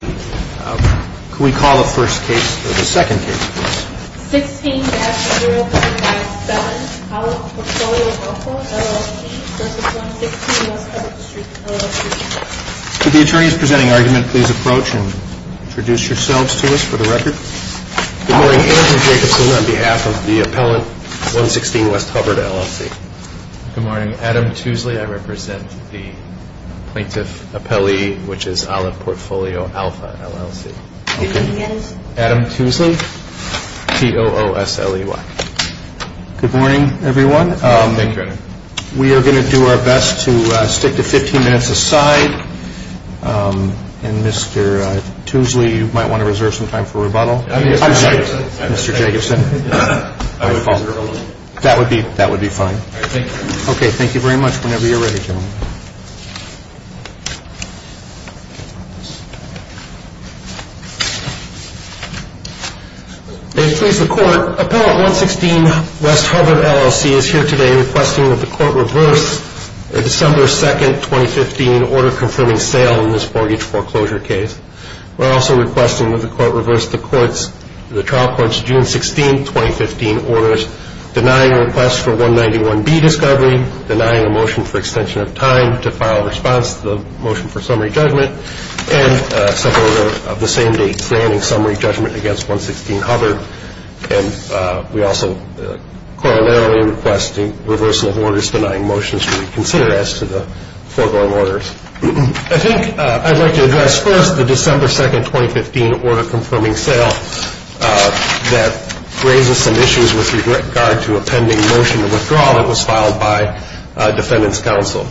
Could we call the first case, or the second case, please? 16-0097 Olive Portfolio Alpha, LLC v. 116 West Hubbard Street, LLC Could the attorneys presenting argument please approach and introduce yourselves to us for the record? Good morning. Andrew Jacobson on behalf of the appellant, 116 West Hubbard, LLC. Good morning. Adam Tuesley. I represent the plaintiff appellee, which is Olive Portfolio Alpha, LLC. Adam Tuesley, T-O-O-S-L-E-Y. Good morning, everyone. We are going to do our best to stick to 15 minutes aside. And Mr. Tuesley, you might want to reserve some time for rebuttal. I'm sorry, Mr. Jacobson. That would be fine. Okay, thank you very much. Whenever you're ready, gentlemen. May it please the Court, Appellant 116 West Hubbard, LLC is here today requesting that the Court reverse the December 2, 2015, order confirming sale in this mortgage foreclosure case. We're also requesting that the Court reverse the trial court's June 16, 2015, orders denying requests for 191B discovery, denying a motion for extension of time to file a response to the motion for summary judgment, and a suborder of the same date granting summary judgment against 116 Hubbard. And we also corollarily request the reversal of orders denying motions to reconsider as to the foregoing orders. I think I'd like to address first the December 2, 2015, order confirming sale that raises some issues with regard to a pending motion of withdrawal that was filed by Defendant's Counsel.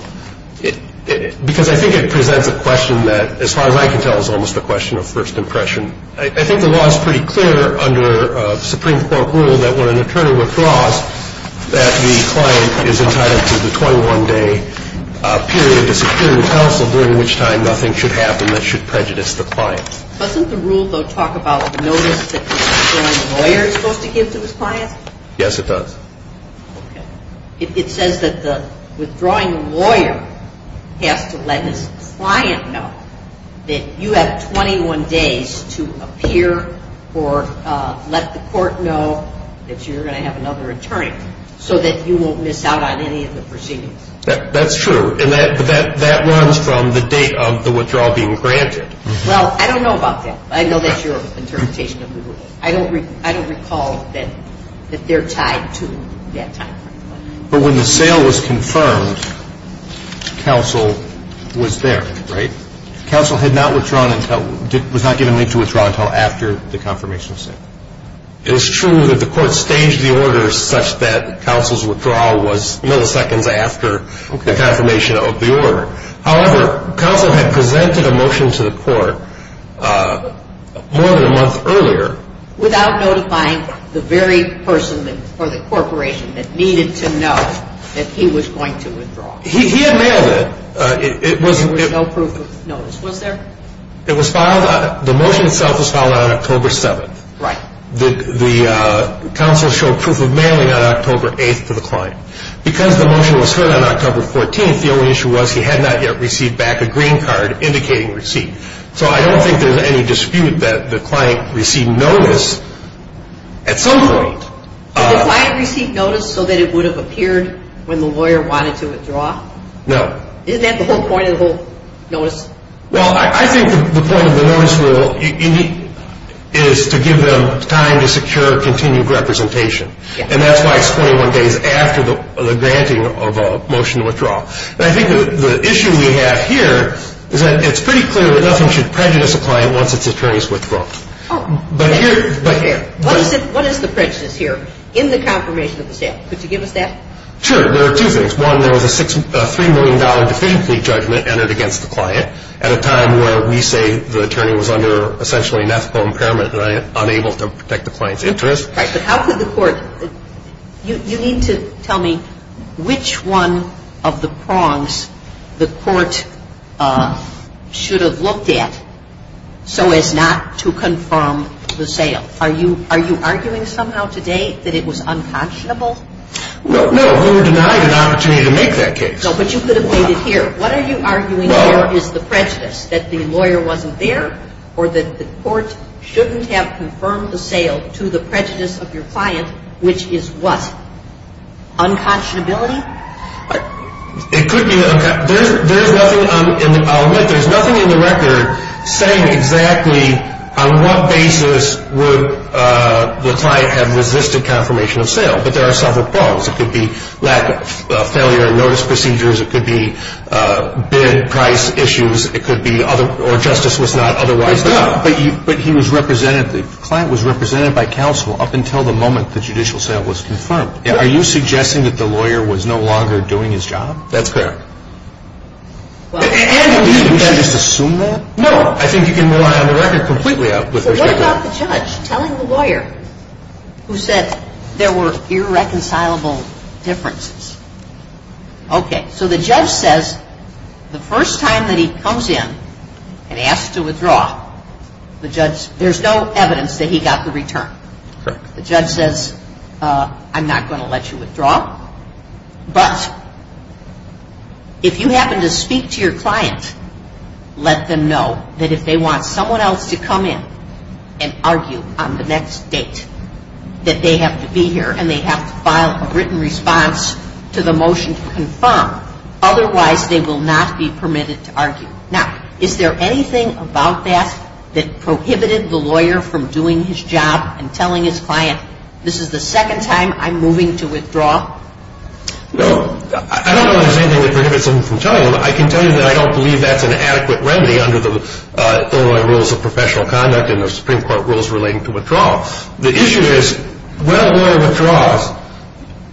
Because I think it presents a question that, as far as I can tell, is almost a question of first impression. I think the law is pretty clear under Supreme Court rule that when an attorney withdraws, that the client is entitled to the 21-day period to secure the counsel, during which time nothing should happen that should prejudice the client. Doesn't the rule, though, talk about the notice that the withdrawing lawyer is supposed to give to his client? Yes, it does. Okay. It says that the withdrawing lawyer has to let his client know that you have 21 days to appear or let the court know that you're going to have another attorney so that you won't miss out on any of the proceedings. That's true. And that runs from the date of the withdrawal being granted. Well, I don't know about that. I know that's your interpretation of the rule. I don't recall that they're tied to that time frame. But when the sale was confirmed, counsel was there, right? Counsel was not given leave to withdraw until after the confirmation of sale. It is true that the court staged the order such that counsel's withdrawal was milliseconds after the confirmation of the order. However, counsel had presented a motion to the court more than a month earlier. Without notifying the very person or the corporation that needed to know that he was going to withdraw. He had mailed it. There was no proof of notice. Was there? The motion itself was filed on October 7th. Right. The counsel showed proof of mailing on October 8th to the client. Because the motion was heard on October 14th, the only issue was he had not yet received back a green card indicating receipt. So I don't think there's any dispute that the client received notice at some point. Did the client receive notice so that it would have appeared when the lawyer wanted to withdraw? No. Isn't that the whole point of the whole notice? Well, I think the point of the notice rule is to give them time to secure continued representation. And that's why it's 21 days after the granting of a motion to withdraw. And I think the issue we have here is that it's pretty clear that nothing should prejudice a client once its attorney has withdrawn. Oh. Right here. What is the prejudice here in the confirmation of the sale? Could you give us that? Sure. There are two things. One, there was a $3 million definitely judgment entered against the client at a time where we say the attorney was under essentially an ethical impairment and unable to protect the client's interest. Right. But how could the court – you need to tell me which one of the prongs the court should have looked at so as not to confirm the sale. Are you arguing somehow today that it was unconscionable? No. No, we were denied an opportunity to make that case. No, but you could have made it here. What are you arguing here is the prejudice, that the lawyer wasn't there or that the court shouldn't have confirmed the sale to the prejudice of your client, which is what? Unconscionability? It could be – there's nothing – I'll admit there's nothing in the record saying exactly on what basis would the client have resisted confirmation of sale. But there are several prongs. It could be lack of – failure of notice procedures. It could be bid price issues. It could be other – or justice was not otherwise there. But he was represented – the client was represented by counsel up until the moment the judicial sale was confirmed. Are you suggesting that the lawyer was no longer doing his job? That's correct. And – Would you just assume that? No. I think you can rely on the record completely. So what about the judge telling the lawyer who said there were irreconcilable differences? Okay. So the judge says the first time that he comes in and asks to withdraw, the judge – there's no evidence that he got the return. Correct. The judge says, I'm not going to let you withdraw. But if you happen to speak to your client, let them know that if they want someone else to come in and argue on the next date, that they have to be here and they have to file a written response to the motion to confirm. Otherwise, they will not be permitted to argue. Now, is there anything about that that prohibited the lawyer from doing his job and telling his client, this is the second time I'm moving to withdraw? No. I don't know if there's anything that prohibits him from telling them. I can tell you that I don't believe that's an adequate remedy under the Illinois Rules of Professional Conduct and the Supreme Court rules relating to withdrawal. The issue is, when a lawyer withdraws,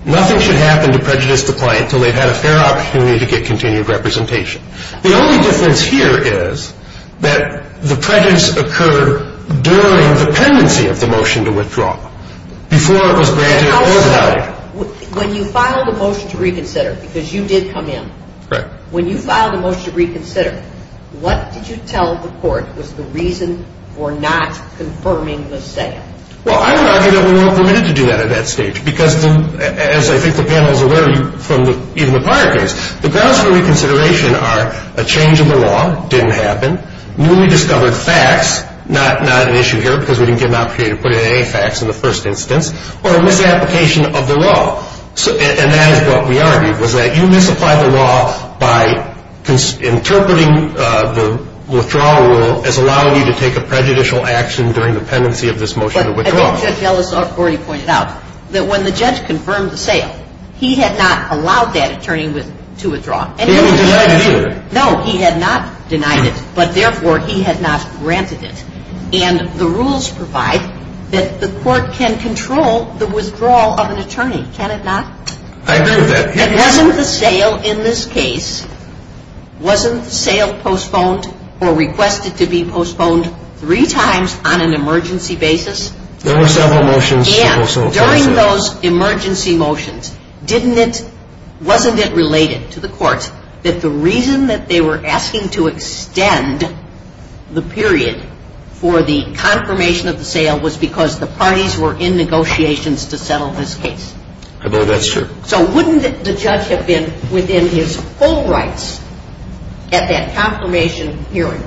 nothing should happen to prejudice the client until they've had a fair opportunity to get continued representation. The only difference here is that the prejudice occurred during the pendency of the motion to withdraw, before it was granted or without it. When you filed a motion to reconsider, because you did come in, when you filed a motion to reconsider, what did you tell the court was the reason for not confirming the saying? Well, I would argue that we weren't permitted to do that at that stage because, as I think the panel is aware from even the prior case, the grounds for reconsideration are a change in the law, didn't happen, newly discovered facts, not an issue here because we didn't get an opportunity to put in any facts in the first instance, or a misapplication of the law. And that is what we argued, was that you misapplied the law by interpreting the withdrawal rule as allowing you to take a prejudicial action during the pendency of this motion to withdraw. I think Judge Ellis already pointed out that when the judge confirmed the sale, he had not allowed that attorney to withdraw. He didn't deny it either. No, he had not denied it, but therefore he had not granted it. And the rules provide that the court can control the withdrawal of an attorney. Can it not? I agree with that. If it wasn't the sale in this case, wasn't the sale postponed or requested to be postponed three times on an emergency basis? There were several motions. And during those emergency motions, wasn't it related to the court that the reason that they were asking to extend the period for the confirmation of the sale was because the parties were in negotiations to settle this case? I believe that's true. So wouldn't the judge have been within his full rights at that confirmation period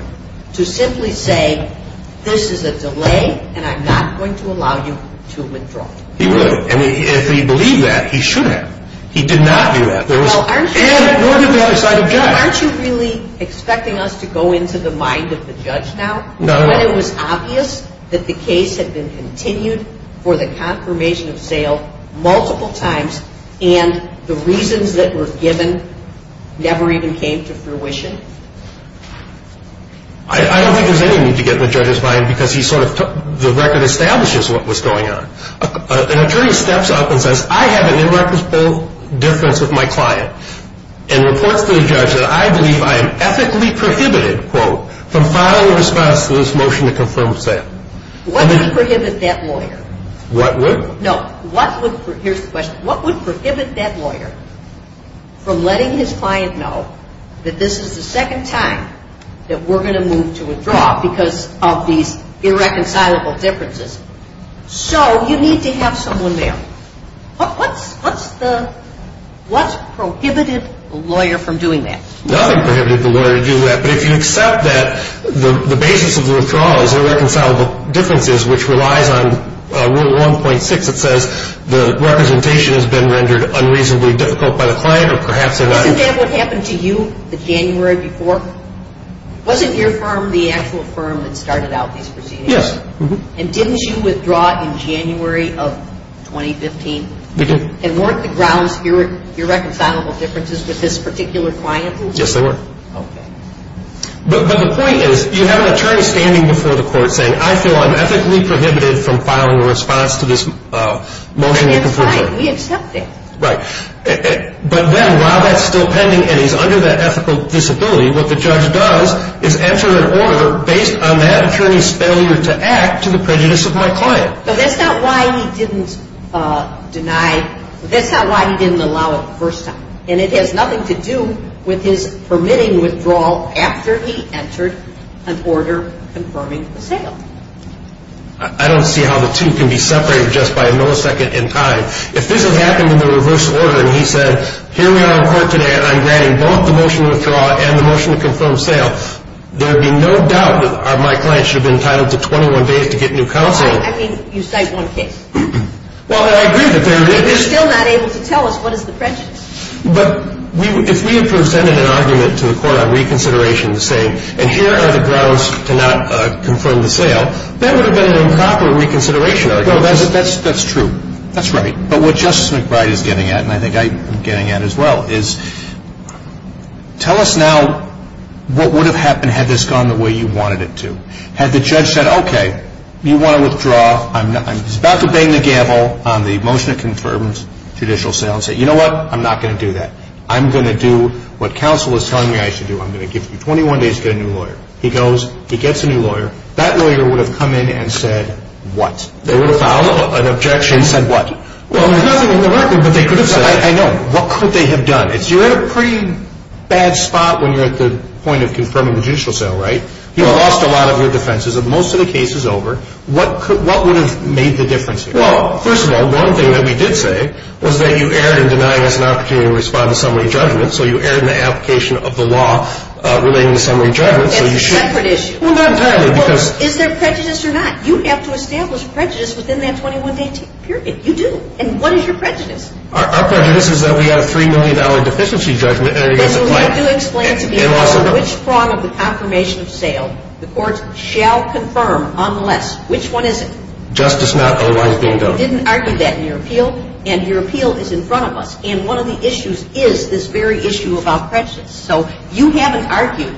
to simply say this is a delay and I'm not going to allow you to withdraw? He would. And if he believed that, he should have. He did not do that. Nor did the other side object. Aren't you really expecting us to go into the mind of the judge now? No. When it was obvious that the case had been continued for the confirmation of sale multiple times and the reasons that were given never even came to fruition? I don't think there's any need to get in the judge's mind because he sort of took the record establishes what was going on. An attorney steps up and says, I have an irreconcilable difference with my client and reports to the judge that I believe I am ethically prohibited, quote, from filing a response to this motion to confirm sale. What would prohibit that lawyer? What would? No. Here's the question. What would prohibit that lawyer from letting his client know that this is the second time that we're going to move to withdraw because of these irreconcilable differences? So you need to have someone there. What's prohibited the lawyer from doing that? Nothing prohibited the lawyer to do that. But if you accept that the basis of the withdrawal is irreconcilable differences, which relies on Rule 1.6 that says the representation has been rendered unreasonably difficult by the client or perhaps they're not. Wasn't that what happened to you the January before? Wasn't your firm the actual firm that started out these proceedings? Yes. And didn't you withdraw in January of 2015? We did. And weren't the grounds irreconcilable differences with this particular client? Yes, they were. Okay. But the point is you have an attorney standing before the court saying, I feel I'm ethically prohibited from filing a response to this motion. That's fine. We accept that. Right. But then while that's still pending and he's under that ethical disability, what the judge does is enter an order based on that attorney's failure to act to the prejudice of my client. But that's not why he didn't deny. That's not why he didn't allow it the first time. And it has nothing to do with his permitting withdrawal after he entered an order confirming the sale. I don't see how the two can be separated just by a millisecond in time. If this has happened in the reverse order and he said, here we are in court today and I'm granting both the motion to withdraw and the motion to confirm sale, there would be no doubt that my client should have been entitled to 21 days to get new counsel. I mean, you cite one case. Well, I agree that there is. But you're still not able to tell us what is the prejudice. But if we had presented an argument to the court on reconsideration saying, and here are the grounds to not confirm the sale, that would have been an improper reconsideration argument. No, that's true. That's right. But what Justice McBride is getting at, and I think I'm getting at as well, is tell us now what would have happened had this gone the way you wanted it to. Had the judge said, okay, you want to withdraw. He's about to bang the gavel on the motion to confirm judicial sale and say, you know what, I'm not going to do that. I'm going to do what counsel is telling me I should do. I'm going to give you 21 days to get a new lawyer. He goes, he gets a new lawyer. That lawyer would have come in and said what? They would have filed an objection. And said what? Well, there's nothing in the record that they could have said. I know. What could they have done? You're in a pretty bad spot when you're at the point of confirming the judicial sale, right? You lost a lot of your defenses. Most of the case is over. What would have made the difference here? Well, first of all, one thing that we did say was that you erred in denying us an opportunity to respond to summary judgment. So you erred in the application of the law relating to summary judgment. That's a separate issue. Well, not entirely. Is there prejudice or not? You have to establish prejudice within that 21-day period. You do. And what is your prejudice? Our prejudice is that we have a $3 million deficiency judgment. But you do explain to me which part of the confirmation of sale the court shall confirm unless. Which one is it? Justice not otherwise being done. You didn't argue that in your appeal, and your appeal is in front of us. And one of the issues is this very issue about prejudice. So you haven't argued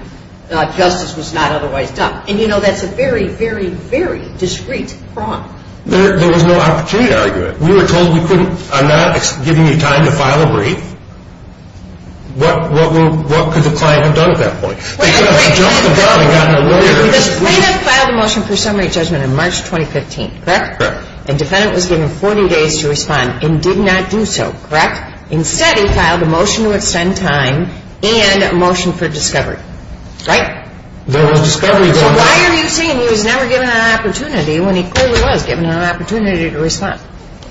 that justice was not otherwise done. And, you know, that's a very, very, very discreet prong. There was no opportunity to argue it. We were told we couldn't. I'm not giving you time to file a brief. What could the client have done at that point? They could have jumped the gun and gotten a lawyer. Because the plaintiff filed a motion for summary judgment on March 2015, correct? Correct. And the defendant was given 40 days to respond and did not do so, correct? Instead, he filed a motion to extend time and a motion for discovery, right? There was discovery going on. So why are you saying he was never given an opportunity when he clearly was given an opportunity to respond?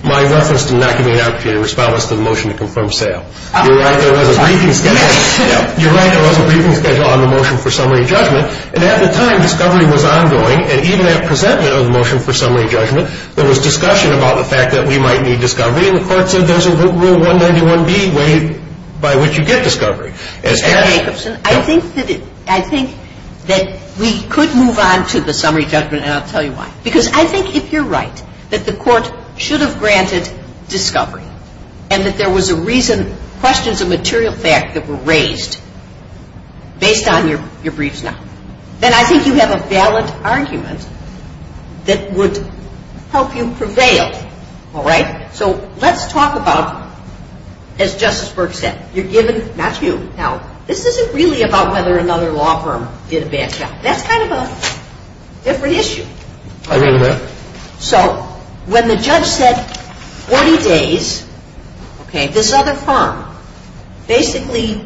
My reference to not giving an opportunity to respond was to the motion to confirm sale. You're right, there was a briefing schedule. You're right, there was a briefing schedule on the motion for summary judgment. And at the time, discovery was ongoing. And even at presentment of the motion for summary judgment, there was discussion about the fact that we might need discovery. And the court said there's a Rule 191B way by which you get discovery. Mr. Jacobson, I think that we could move on to the summary judgment, and I'll tell you why. Because I think if you're right, that the court should have granted discovery and that there was a reason, questions of material fact that were raised based on your briefs now. Then I think you have a valid argument that would help you prevail, all right? So let's talk about, as Justice Burke said, you're given, not you. Now, this isn't really about whether another law firm did a bad job. That's kind of a different issue. I agree with that. So when the judge said 40 days, this other firm basically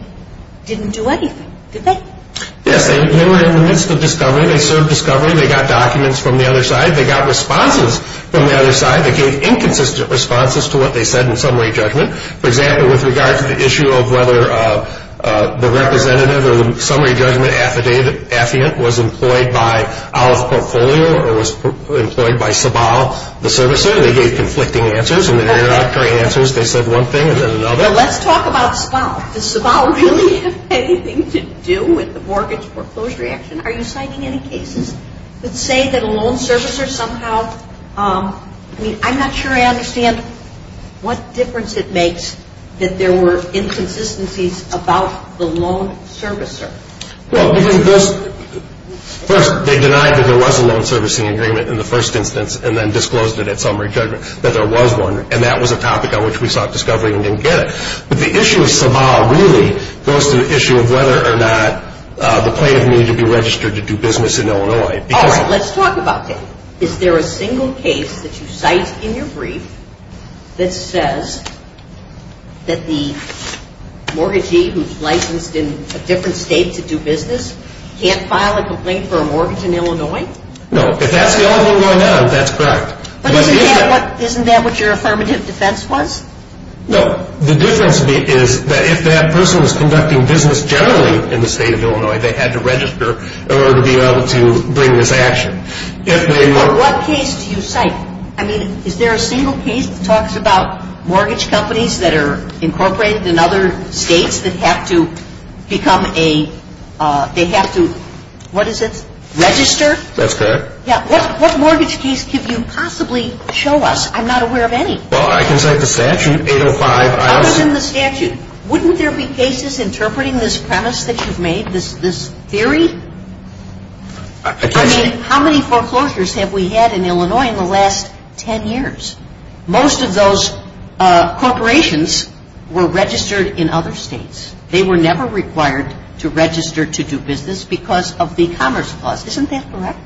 didn't do anything, did they? Yes, they were in the midst of discovery. They served discovery. They got documents from the other side. They got responses from the other side. They gave inconsistent responses to what they said in summary judgment. For example, with regard to the issue of whether the representative or the summary judgment affidavit was employed by Olive Portfolio or was employed by Sabal, the servicer, they gave conflicting answers. In the introductory answers, they said one thing and then another. Well, let's talk about Sabal. Does Sabal really have anything to do with the mortgage foreclosure action? Are you citing any cases that say that a loan servicer somehow, I mean, I'm not sure I understand what difference it makes that there were inconsistencies about the loan servicer? Well, first, they denied that there was a loan servicing agreement in the first instance and then disclosed it at summary judgment that there was one, and that was a topic on which we sought discovery and didn't get it. But the issue of Sabal really goes to the issue of whether or not the plaintiff needed to be registered to do business in Illinois. All right. Let's talk about that. Is there a single case that you cite in your brief that says that the mortgagee who's licensed in a different state to do business can't file a complaint for a mortgage in Illinois? No. If that's the only one going on, that's correct. But isn't that what your affirmative defense was? No. The difference is that if that person was conducting business generally in the state of Illinois, they had to register in order to be able to bring this action. What case do you cite? I mean, is there a single case that talks about mortgage companies that are incorporated in other states that have to become a – they have to – what is it? Register? That's correct. Yeah. What mortgage case could you possibly show us? I'm not aware of any. Well, I can cite the statute, 805. Other than the statute, wouldn't there be cases interpreting this premise that you've made, this theory? I mean, how many foreclosures have we had in Illinois in the last 10 years? Most of those corporations were registered in other states. They were never required to register to do business because of the commerce clause. Isn't that correct?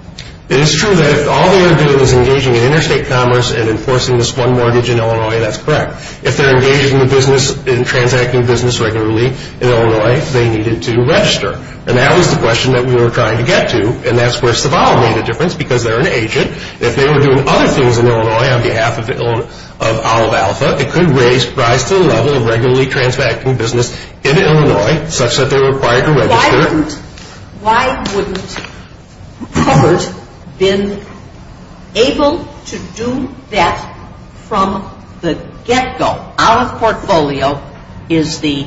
It is true that if all they were doing was engaging in interstate commerce and enforcing this one mortgage in Illinois, that's correct. If they're engaged in the business – in transacting business regularly in Illinois, they needed to register. And that was the question that we were trying to get to. And that's where Saval made a difference because they're an agent. If they were doing other things in Illinois on behalf of Olive Alpha, it could raise – rise to the level of regularly transacting business in Illinois, such that they were required to register. Why wouldn't – why wouldn't covers been able to do that from the get-go? So Olive Portfolio is the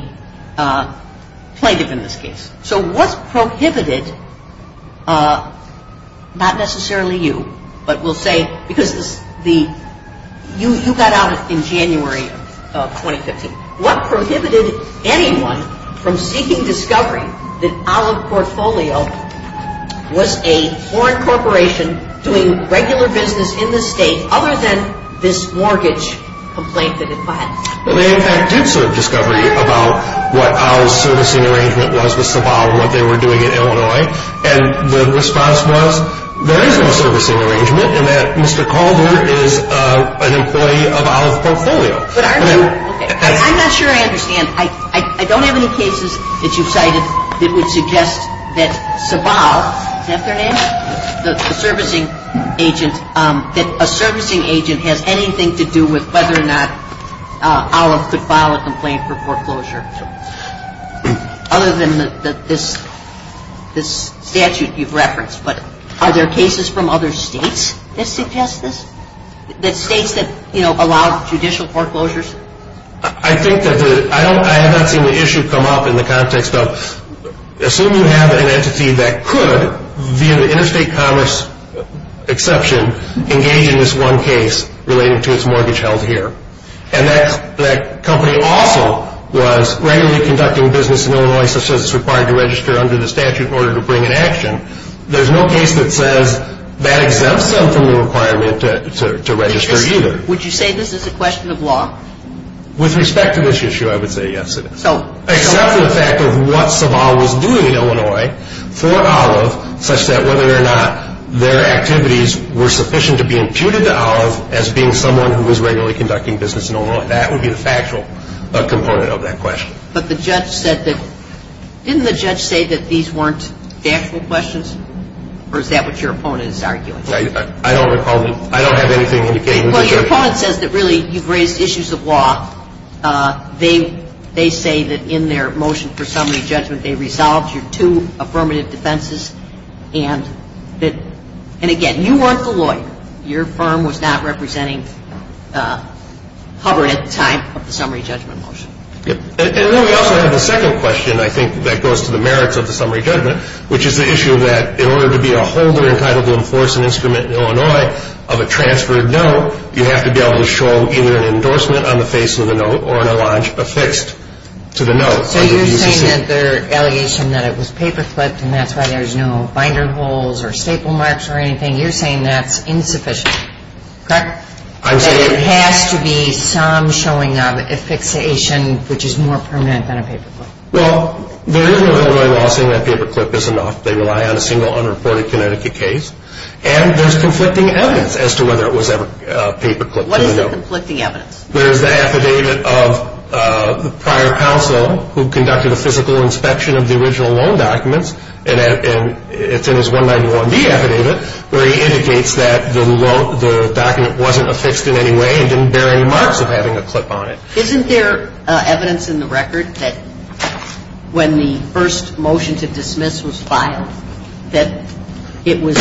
plaintiff in this case. So what's prohibited – not necessarily you, but we'll say – because the – you got out in January of 2015. What prohibited anyone from seeking discovery that Olive Portfolio was a foreign corporation doing regular business in the state other than this mortgage complaint that it filed? Well, they, in fact, did serve discovery about what Olive's servicing arrangement was with Saval and what they were doing in Illinois. And the response was there is no servicing arrangement and that Mr. Calder is an employee of Olive Portfolio. But aren't you – I'm not sure I understand. I don't have any cases that you've cited that would suggest that Saval – does that have their name? The servicing agent – that a servicing agent has anything to do with whether or not Olive could file a complaint for foreclosure other than this statute you've referenced. But are there cases from other states that suggest this? The states that, you know, allow judicial foreclosures? I think that the – I haven't seen the issue come up in the context of – under state commerce exception, engage in this one case relating to its mortgage held here. And that company also was regularly conducting business in Illinois such as it's required to register under the statute in order to bring in action. There's no case that says that exempts them from the requirement to register either. Would you say this is a question of law? With respect to this issue, I would say yes, it is. Except for the fact of what Saval was doing in Illinois for Olive, such that whether or not their activities were sufficient to be imputed to Olive as being someone who was regularly conducting business in Illinois. That would be the factual component of that question. But the judge said that – didn't the judge say that these weren't factual questions? Or is that what your opponent is arguing? I don't recall – I don't have anything indicating – Well, your opponent says that really you've raised issues of law. They say that in their motion for summary judgment they resolved your two affirmative defenses. And again, you weren't the lawyer. Your firm was not representing Hubbard at the time of the summary judgment motion. And then we also have a second question, I think, that goes to the merits of the summary judgment, which is the issue that in order to be a holder entitled to enforce an instrument in Illinois of a transferred note, you have to be able to show either an endorsement on the face of the note or an allege affixed to the note. So you're saying that their allegation that it was paper clipped and that's why there's no binder holes or staple marks or anything, you're saying that's insufficient, correct? I'm saying – That there has to be some showing of affixation which is more permanent than a paper clip. Well, there is no Illinois law saying that paper clip is enough. They rely on a single unreported Connecticut case. And there's conflicting evidence as to whether it was ever paper clipped. What is the conflicting evidence? There's the affidavit of the prior counsel who conducted a physical inspection of the original loan documents, and it's in his 191B affidavit where he indicates that the document wasn't affixed in any way and didn't bear any marks of having a clip on it. Isn't there evidence in the record that when the first motion to dismiss was filed that it was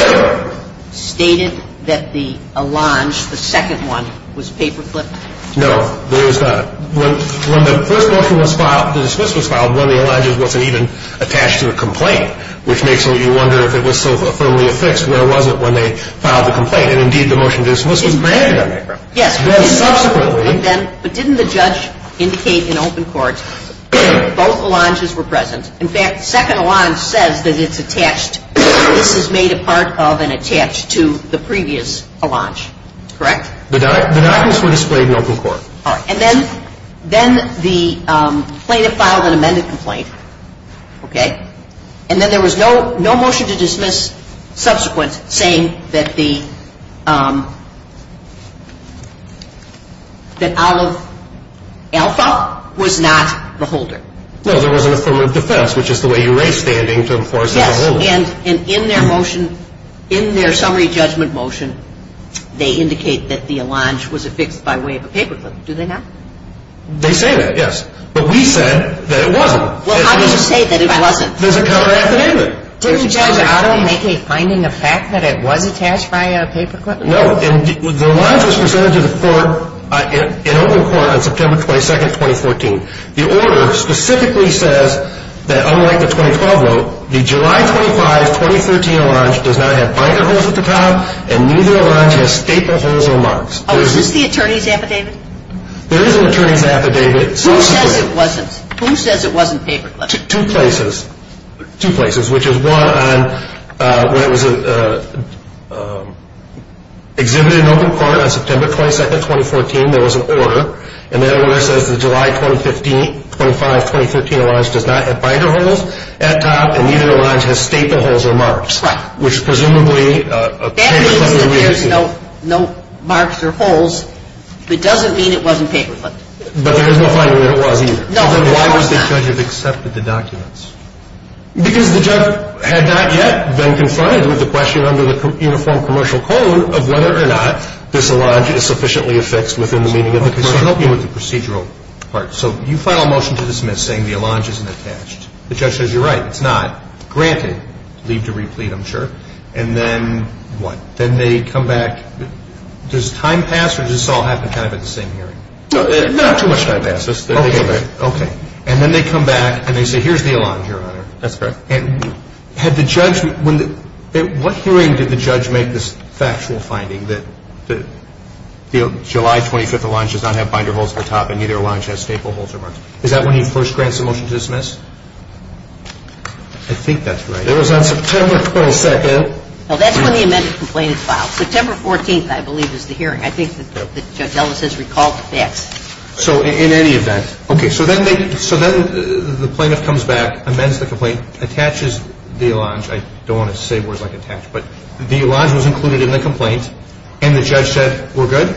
stated that the allenge, the second one, was paper clipped? No, there is not. When the first motion was filed, to dismiss was filed, one of the allenges wasn't even attached to the complaint, which makes you wonder if it was so firmly affixed when it wasn't when they filed the complaint. And, indeed, the motion to dismiss was granted on that ground. Yes. Well, subsequently – But didn't the judge indicate in open court both allenges were present? In fact, the second allenge says that it's attached, this is made a part of and attached to the previous allenge. Correct? The documents were displayed in open court. All right. And then the plaintiff filed an amended complaint, okay, and then there was no motion to dismiss subsequent saying that the – that Olive Alpha was not the holder. No, there was an affirmative defense, which is the way you raise standing to enforce the holder. Yes, and in their motion, in their summary judgment motion, they indicate that the allenge was affixed by way of a paper clip. Do they not? They say that, yes. But we said that it wasn't. Well, how can you say that it wasn't? There's a counter-academic. Didn't Judge Otto make a finding of fact that it was attached by a paper clip? No, and the allenge was presented to the court in open court on September 22, 2014. The order specifically says that, unlike the 2012 vote, the July 25, 2013 allenge does not have binder holes at the top and neither allenge has staple holes or marks. Oh, is this the attorney's affidavit? There is an attorney's affidavit. Who says it wasn't? Who says it wasn't paper clipped? Two places. Two places, which is one on when it was exhibited in open court on September 22, 2014, there was an order, and that order says that the July 25, 2013 allenge does not have binder holes at the top and neither allenge has staple holes or marks. Right. Which is presumably a case under review. That means that there's no marks or holes, but it doesn't mean it wasn't paper clipped. But there is no finding that it was either. No. Then why would the judge have accepted the documents? Because the judge had not yet been confined with the question under the uniform commercial code of whether or not this allenge is sufficiently affixed within the meaning of the commercial code. Let me help you with the procedural part. So you file a motion to dismiss saying the allenge isn't attached. The judge says you're right, it's not. Granted, leave to replete, I'm sure. And then what? Then they come back. Does time pass or does this all happen kind of at the same hearing? Not too much time passes. Okay. And then they come back and they say here's the allenge, Your Honor. That's correct. And what hearing did the judge make this factual finding that the July 25th allenge does not have binder holes at the top and neither allenge has staple holes or marks? Is that when he first grants the motion to dismiss? I think that's right. It was on September 22nd. No, that's when the amended complaint is filed. September 14th, I believe, is the hearing. I think that Judge Ellis has recalled the facts. So in any event. Okay. So then the plaintiff comes back, amends the complaint, attaches the allenge. I don't want to say words like attach, but the allenge was included in the complaint, and the judge said we're good?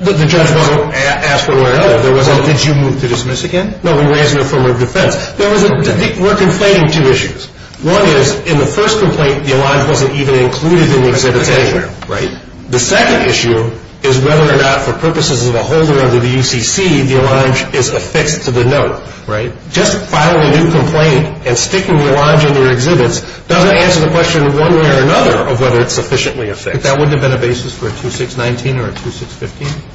The judge wasn't asked for where it was. Did you move to dismiss again? No, we raised it in a form of defense. We're conflating two issues. One is in the first complaint the allenge wasn't even included in the exhibit anywhere. Right. The second issue is whether or not for purposes of a holder under the UCC the allenge is affixed to the note. Right. Just filing a new complaint and sticking the allenge in your exhibits doesn't answer the question one way or another of whether it's sufficiently affixed. That wouldn't have been a basis for a 2619 or a 2615?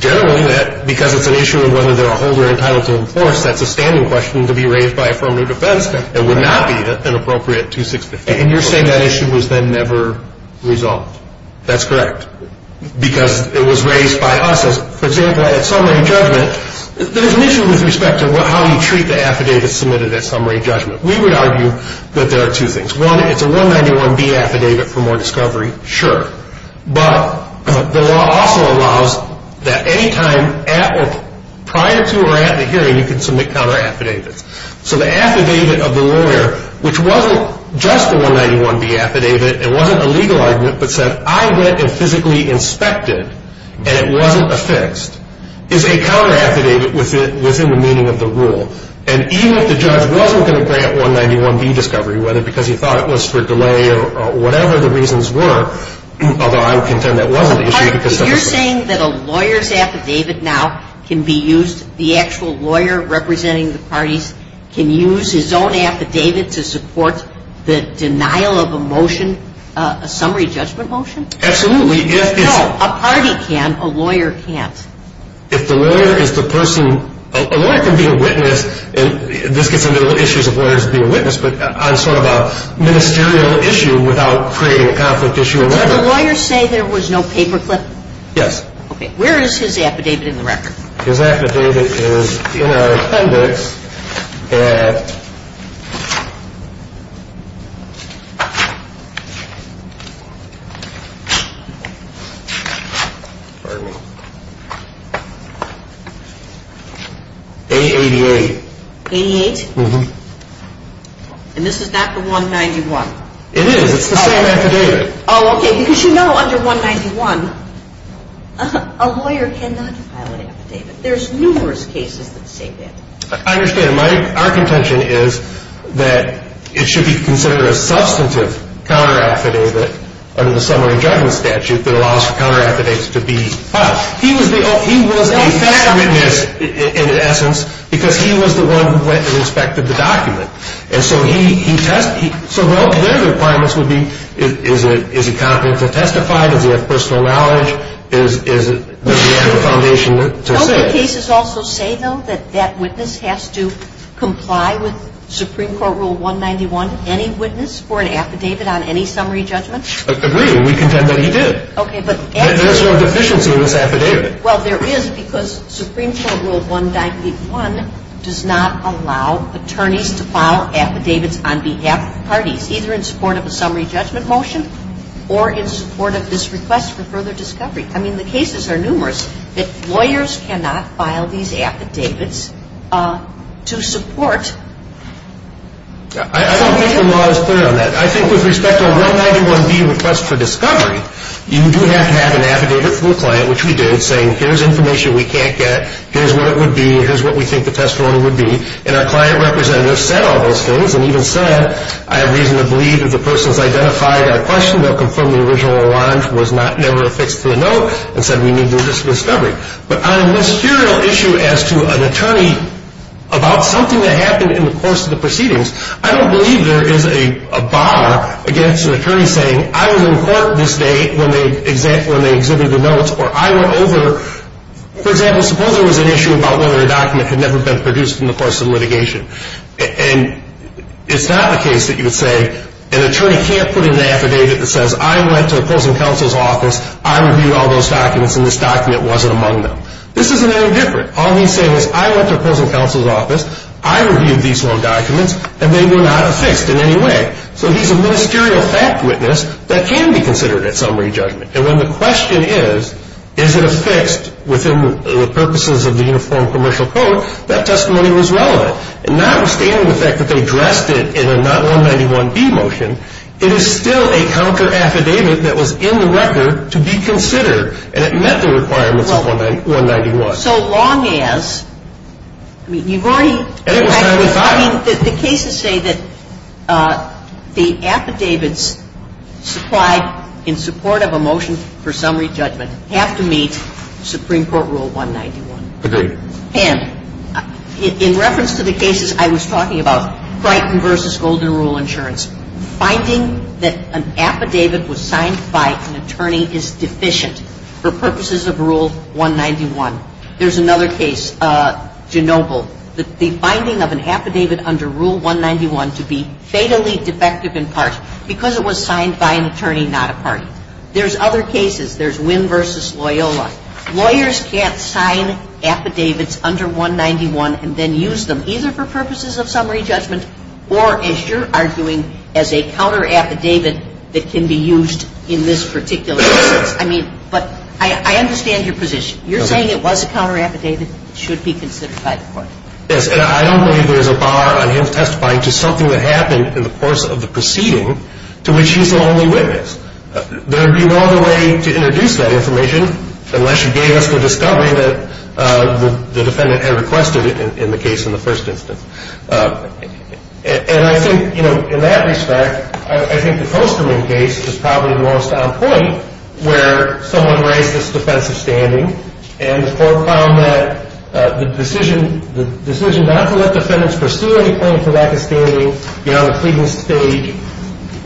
Generally, because it's an issue of whether they're a holder entitled to enforce, that's a standing question to be raised by affirmative defense. It would not be an appropriate 2615. Okay, and you're saying that issue was then never resolved. That's correct, because it was raised by us. For example, at summary judgment, there's an issue with respect to how you treat the affidavit submitted at summary judgment. We would argue that there are two things. One, it's a 191B affidavit for more discovery. Sure. But the law also allows that any time prior to or at the hearing you can submit counter affidavits. So the affidavit of the lawyer, which wasn't just the 191B affidavit, it wasn't a legal argument, but said, I went and physically inspected, and it wasn't affixed, is a counter affidavit within the meaning of the rule. And even if the judge wasn't going to grant 191B discovery, whether because he thought it was for delay or whatever the reasons were, although I would contend that wasn't the issue, it was sufficiently affixed. So you're saying that a lawyer's affidavit now can be used, the actual lawyer representing the parties can use his own affidavit to support the denial of a motion, a summary judgment motion? Absolutely. No, a party can, a lawyer can't. If the lawyer is the person, a lawyer can be a witness, and this gets into the issues of lawyers being a witness, but on sort of a ministerial issue without creating a conflict issue or whatever. Did the lawyer say there was no paperclip? Yes. Okay, where is his affidavit in the record? His affidavit is in our appendix at A88. 88? Uh-huh. And this is not the 191? It is, it's the same affidavit. Oh, okay, because you know under 191, a lawyer cannot file an affidavit. There's numerous cases that say that. I understand. Our contention is that it should be considered a substantive counteraffidavit under the summary judgment statute that allows for counteraffidavits to be filed. He was the fact witness in essence because he was the one who went and inspected the document. And so he tested, so their requirements would be is he competent to testify, does he have personal knowledge, does he have a foundation to say. Don't the cases also say, though, that that witness has to comply with Supreme Court Rule 191, any witness for an affidavit on any summary judgment? Agreed. We contend that he did. Okay, but. There's no deficiency in this affidavit. Well, there is because Supreme Court Rule 191 does not allow attorneys to file affidavits on behalf of parties, either in support of a summary judgment motion or in support of this request for further discovery. I mean, the cases are numerous that lawyers cannot file these affidavits to support. I don't think the law is clear on that. I think with respect to a Rule 191B request for discovery, you do have to have an affidavit from the client, which we did, saying here's information we can't get, here's what it would be, here's what we think the testimony would be. And our client representative said all those things and even said, I have reason to believe if the person has identified our question, they'll confirm the original allonge was never affixed to the note and said we need to do this discovery. But on a ministerial issue as to an attorney about something that happened in the course of the proceedings, I don't believe there is a bar against an attorney saying I was in court this day when they exhibited the notes or I went over, for example, suppose there was an issue about whether a document had never been produced in the course of litigation. And it's not the case that you would say an attorney can't put in an affidavit that says I went to opposing counsel's office, I reviewed all those documents, and this document wasn't among them. This isn't any different. All he's saying is I went to opposing counsel's office, I reviewed these documents, and they were not affixed in any way. So he's a ministerial fact witness that can be considered at summary judgment. And when the question is, is it affixed within the purposes of the Uniform Commercial Code, that testimony was relevant. Notwithstanding the fact that they addressed it in a not 191B motion, it is still a counter affidavit that was in the record to be considered and it met the requirements of 191. So long as, I mean, you've already, I mean, the cases say that the affidavits supplied in support of a motion for summary judgment have to meet Supreme Court Rule 191. Agreed. And in reference to the cases I was talking about, Brighton v. Golden Rule Insurance, finding that an affidavit was signed by an attorney is deficient for purposes of Rule 191. There's another case, Genoble, the finding of an affidavit under Rule 191 to be fatally defective in part because it was signed by an attorney, not a party. There's other cases. There's Wynn v. Loyola. Lawyers can't sign affidavits under 191 and then use them either for purposes of summary judgment or, as you're arguing, as a counter affidavit that can be used in this particular instance. I mean, but I understand your position. You're saying it was a counter affidavit. It should be considered by the court. Yes, and I don't believe there's a bar on him testifying to something that happened in the course of the proceeding to which he's the only witness. There would be no other way to introduce that information unless you gave us the discovery that the defendant had requested in the case in the first instance. And I think, you know, in that respect, I think the Coasterman case is probably the most on point where someone raised this defense of standing and the court found that the decision not to let defendants pursue any claim for lack of standing beyond the pleading stage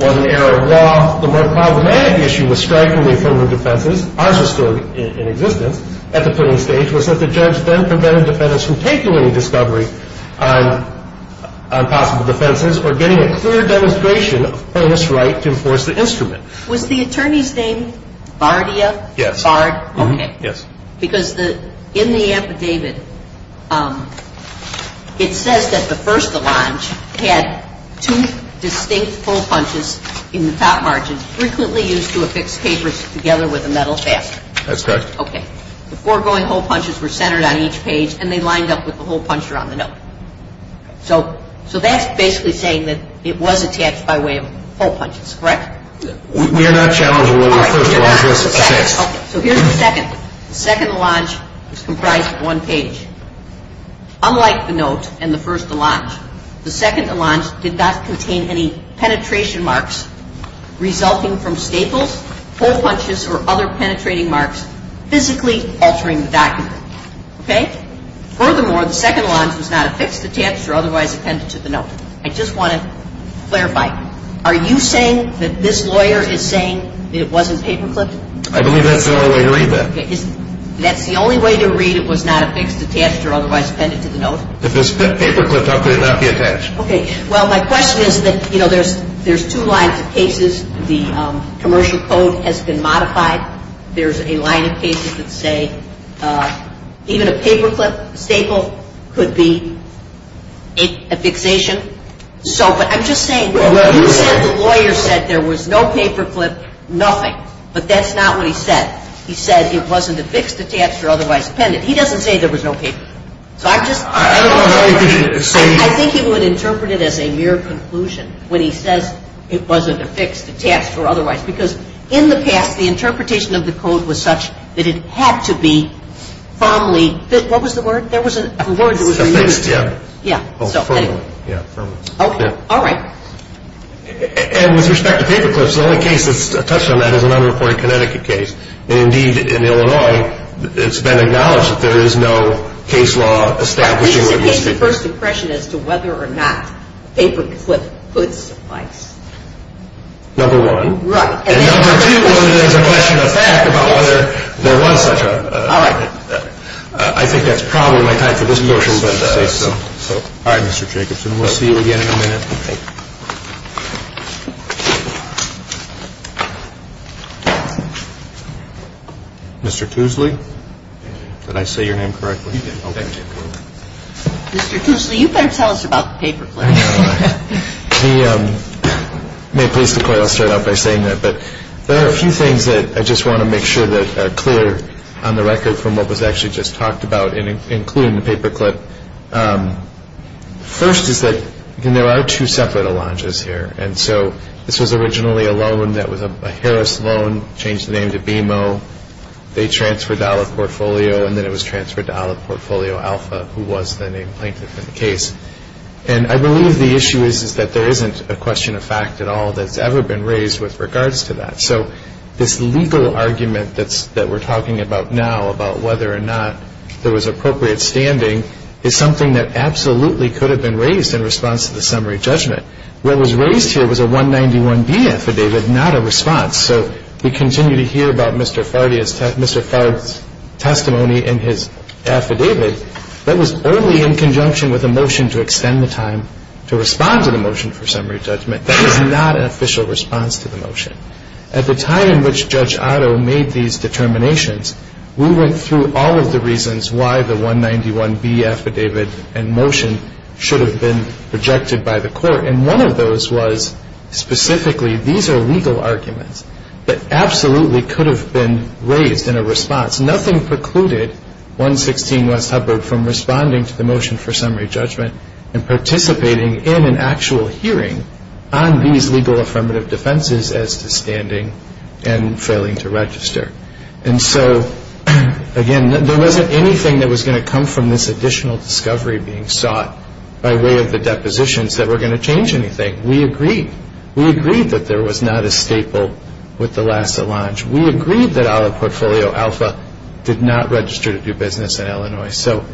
was an error of law. The more problematic issue with striking the offender of defenses, ours was still in existence at the pleading stage, was that the judge then prevented defendants from taking any discovery on possible defenses or getting a clear demonstration of earnest right to enforce the instrument. Was the attorney's name Bardia? Yes. Bard, okay. Yes. Because in the affidavit, it says that the first allonge had two distinct hole punches in the top margin frequently used to affix papers together with a metal shaft. That's correct. Okay. The foregoing hole punches were centered on each page and they lined up with the hole puncher on the note. So that's basically saying that it was attached by way of hole punches, correct? We are not challenging whether the first allonge was attached. Okay. So here's the second. The second allonge was comprised of one page. Unlike the note and the first allonge, the second allonge did not contain any penetration marks resulting from staples, hole punches, or other penetrating marks physically altering the document. Okay? Furthermore, the second allonge was not affixed, attached, or otherwise appended to the note. I just want to clarify. Are you saying that this lawyer is saying that it wasn't paper clipped? I believe that's the only way to read that. That's the only way to read it was not affixed, attached, or otherwise appended to the note? If it was paper clipped, how could it not be attached? Okay. Well, my question is that, you know, there's two lines of cases. The commercial code has been modified. There's a line of cases that say even a paper clip staple could be a fixation. So I'm just saying, you said the lawyer said there was no paper clip, nothing. But that's not what he said. He said it wasn't affixed, attached, or otherwise appended. He doesn't say there was no paper clip. I think he would interpret it as a mere conclusion when he says it wasn't affixed, attached, or otherwise. Because in the past, the interpretation of the code was such that it had to be firmly, what was the word? There was a word that was removed. Affixed, yeah. Yeah. Oh, firmly. Yeah, firmly. Okay. All right. And with respect to paper clips, the only case that's touched on that is an unreported Connecticut case. And indeed, in Illinois, it's been acknowledged that there is no case law establishing what these things are. Right. It's a case of first impression as to whether or not paper clip could suffice. Number one. Right. And number two, whether there's a question of fact about whether there was such a... All right. I think that's probably my time for this portion, but... Let's just say so. All right, Mr. Jacobson. We'll see you again in a minute. Okay. Mr. Tuesley? Did I say your name correctly? You did. Thank you. Mr. Tuesley, you better tell us about the paper clip. I know. The... May I please declare? I'll start out by saying that. But there are a few things that I just want to make sure that are clear on the record from what was actually just talked about, including the paper clip. First is that there are two separate Allonges here. And so this was originally a loan that was a Harris loan, changed the name to BMO. They transferred out of portfolio, and then it was transferred out of portfolio alpha, who was the name plaintiff in the case. And I believe the issue is that there isn't a question of fact at all that's ever been raised with regards to that. So this legal argument that we're talking about now, about whether or not there was appropriate standing, is something that absolutely could have been raised in response to the summary judgment. What was raised here was a 191B affidavit, not a response. So we continue to hear about Mr. Fard's testimony in his affidavit. That was only in conjunction with a motion to extend the time to respond to the motion for summary judgment. That is not an official response to the motion. At the time in which Judge Otto made these determinations, we went through all of the reasons why the 191B affidavit and motion should have been rejected by the court. And one of those was specifically these are legal arguments that absolutely could have been raised in a response. Nothing precluded 116 West Hubbard from responding to the motion for summary judgment and participating in an actual hearing on these legal affirmative defenses as to standing and failing to register. And so, again, there wasn't anything that was going to come from this additional discovery being sought by way of the depositions that were going to change anything. We agreed. We agreed that there was not a staple with the Lassa Lodge. We agreed that our portfolio, Alpha, did not register to do business in Illinois. So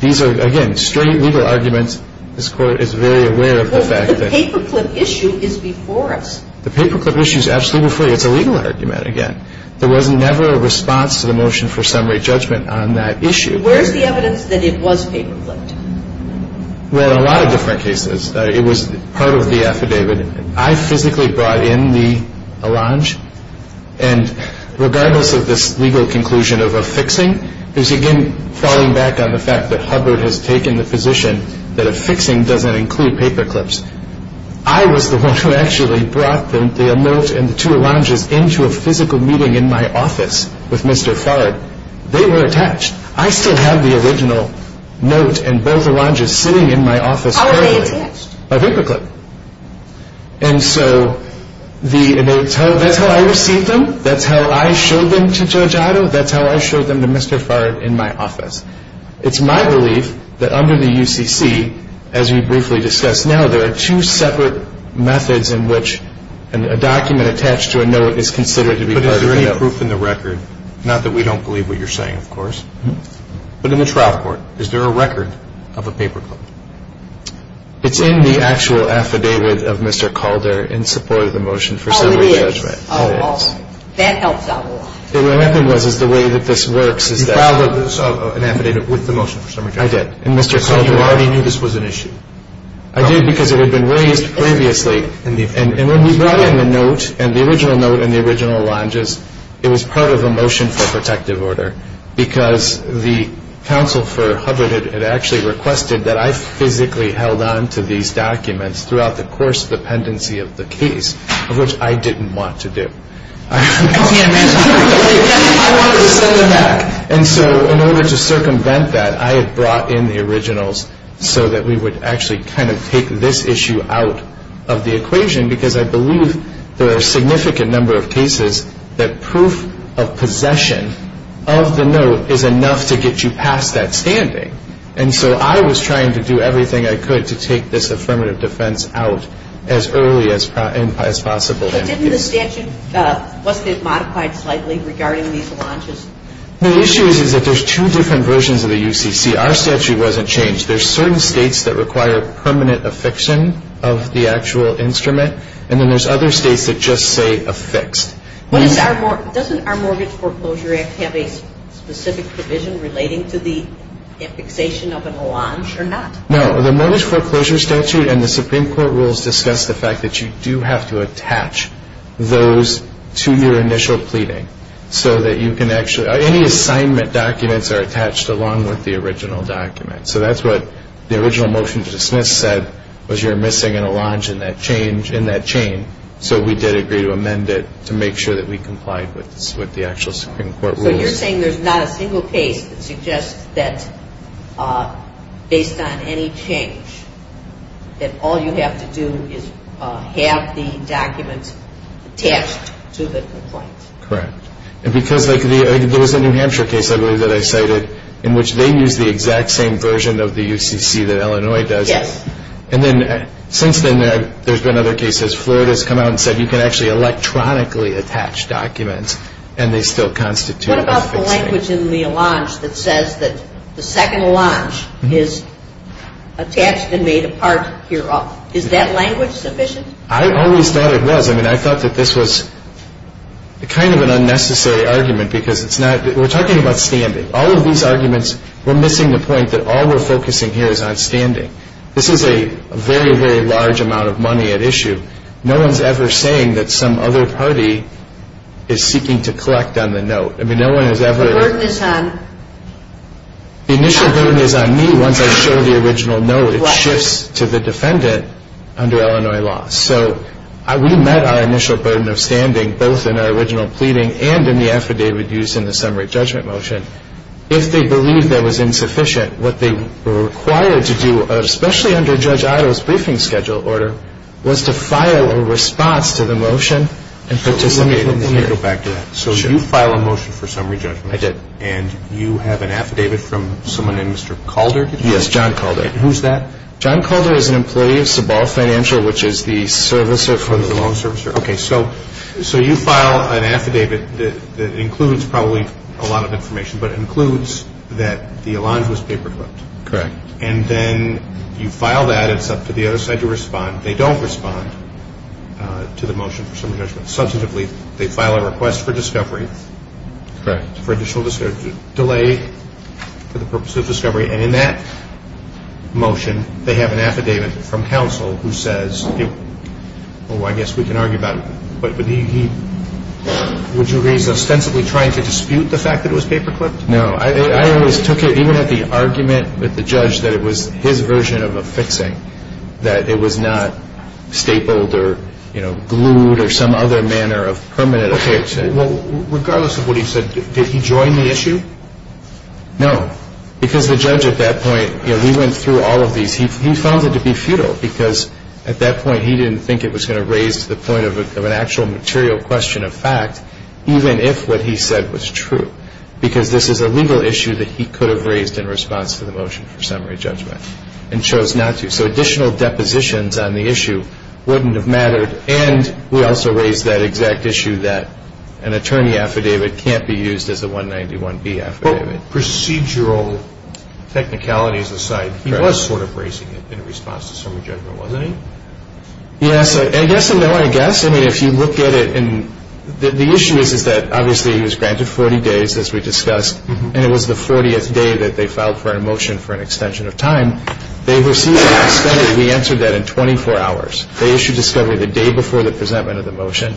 these are, again, straight legal arguments. This Court is very aware of the fact that... But the paperclip issue is before us. The paperclip issue is absolutely before you. It's a legal argument again. There was never a response to the motion for summary judgment on that issue. Where is the evidence that it was paperclipped? Well, in a lot of different cases. It was part of the affidavit. I physically brought in the allonge. And regardless of this legal conclusion of a fixing, there's, again, falling back on the fact that Hubbard has taken the position that a fixing doesn't include paperclips. I was the one who actually brought the note and the two allonges into a physical meeting in my office with Mr. Farrad. They were attached. I still have the original note and both allonges sitting in my office currently. How were they attached? By paperclip. And so that's how I received them. That's how I showed them to Judge Ido. That's how I showed them to Mr. Farrad in my office. It's my belief that under the UCC, as we briefly discussed now, there are two separate methods in which a document attached to a note is considered to be part of a note. But is there any proof in the record, not that we don't believe what you're saying, of course, but in the trial court, is there a record of a paperclip? It's in the actual affidavit of Mr. Calder in support of the motion for summary judgment. Oh, it is? It is. That helps out a lot. What happened was is the way that this works is that – You filed an affidavit with the motion for summary judgment. I did. And Mr. Calder – Because it had been raised previously. And when we brought in the note and the original note and the original alonges, it was part of a motion for protective order because the counsel for Hubbard had actually requested that I physically held on to these documents throughout the course of the pendency of the case, of which I didn't want to do. I can't imagine. I wanted to send them back. And so in order to circumvent that, I had brought in the originals so that we would actually kind of take this issue out of the equation because I believe there are a significant number of cases that proof of possession of the note is enough to get you past that standing. And so I was trying to do everything I could to take this affirmative defense out as early as possible. But didn't the statute – wasn't it modified slightly regarding these alonges? The issue is that there's two different versions of the UCC. Our statute wasn't changed. There's certain states that require permanent affixion of the actual instrument, and then there's other states that just say affixed. Doesn't our Mortgage Foreclosure Act have a specific provision relating to the affixation of an allonge or not? No, the Mortgage Foreclosure Statute and the Supreme Court rules discuss the fact that you do have to attach those to your initial pleading so that you can actually – So that's what the original motion to dismiss said, was you're missing an allonge in that chain, so we did agree to amend it to make sure that we complied with the actual Supreme Court rules. So you're saying there's not a single case that suggests that based on any change that all you have to do is have the documents attached to the complaint. Correct. Because there was a New Hampshire case, I believe, that I cited in which they used the exact same version of the UCC that Illinois does. Yes. And then since then there's been other cases. Florida's come out and said you can actually electronically attach documents and they still constitute an affix. What about the language in the allonge that says that the second allonge is attached and made a part here. Is that language sufficient? I always thought it was. I mean, I thought that this was kind of an unnecessary argument because it's not – we're talking about standing. All of these arguments, we're missing the point that all we're focusing here is on standing. This is a very, very large amount of money at issue. No one's ever saying that some other party is seeking to collect on the note. I mean, no one has ever – The burden is on – The initial burden is on me once I show the original note. It shifts to the defendant under Illinois law. So we met our initial burden of standing both in our original pleading and in the affidavit used in the summary judgment motion. If they believed that was insufficient, what they were required to do, especially under Judge Ido's briefing schedule order, was to file a response to the motion and participate in the hearing. Let me go back to that. So you file a motion for summary judgment. I did. And you have an affidavit from someone named Mr. Calder? Yes, John Calder. Who's that? John Calder is an employee of Sabal Financial, which is the servicer for the loan. The loan servicer. Okay. So you file an affidavit that includes probably a lot of information, but it includes that the Allonge was paperclipped. Correct. And then you file that. It's up to the other side to respond. They don't respond to the motion for summary judgment. Substantively, they file a request for discovery. Correct. For additional delay for the purpose of discovery. And in that motion, they have an affidavit from counsel who says, well, I guess we can argue about it, but would you raise ostensibly trying to dispute the fact that it was paperclipped? No. I always took it, even at the argument with the judge, that it was his version of a fixing, that it was not stapled or, you know, glued or some other manner of permanent affix. Well, regardless of what he said, did he join the issue? No. Because the judge at that point, you know, he went through all of these. He found it to be futile, because at that point he didn't think it was going to raise the point of an actual material question of fact, even if what he said was true, because this is a legal issue that he could have raised in response to the motion for summary judgment and chose not to. So additional depositions on the issue wouldn't have mattered, and we also raised that exact issue that an attorney affidavit can't be used as a 191B affidavit. And that procedural technicalities aside, he was sort of raising it in response to summary judgment, wasn't he? Yes. Yes and no, I guess. I mean, if you look at it, and the issue is that, obviously, he was granted 40 days, as we discussed, and it was the 40th day that they filed for a motion for an extension of time. They received an extended. We answered that in 24 hours. They issued discovery the day before the presentment of the motion.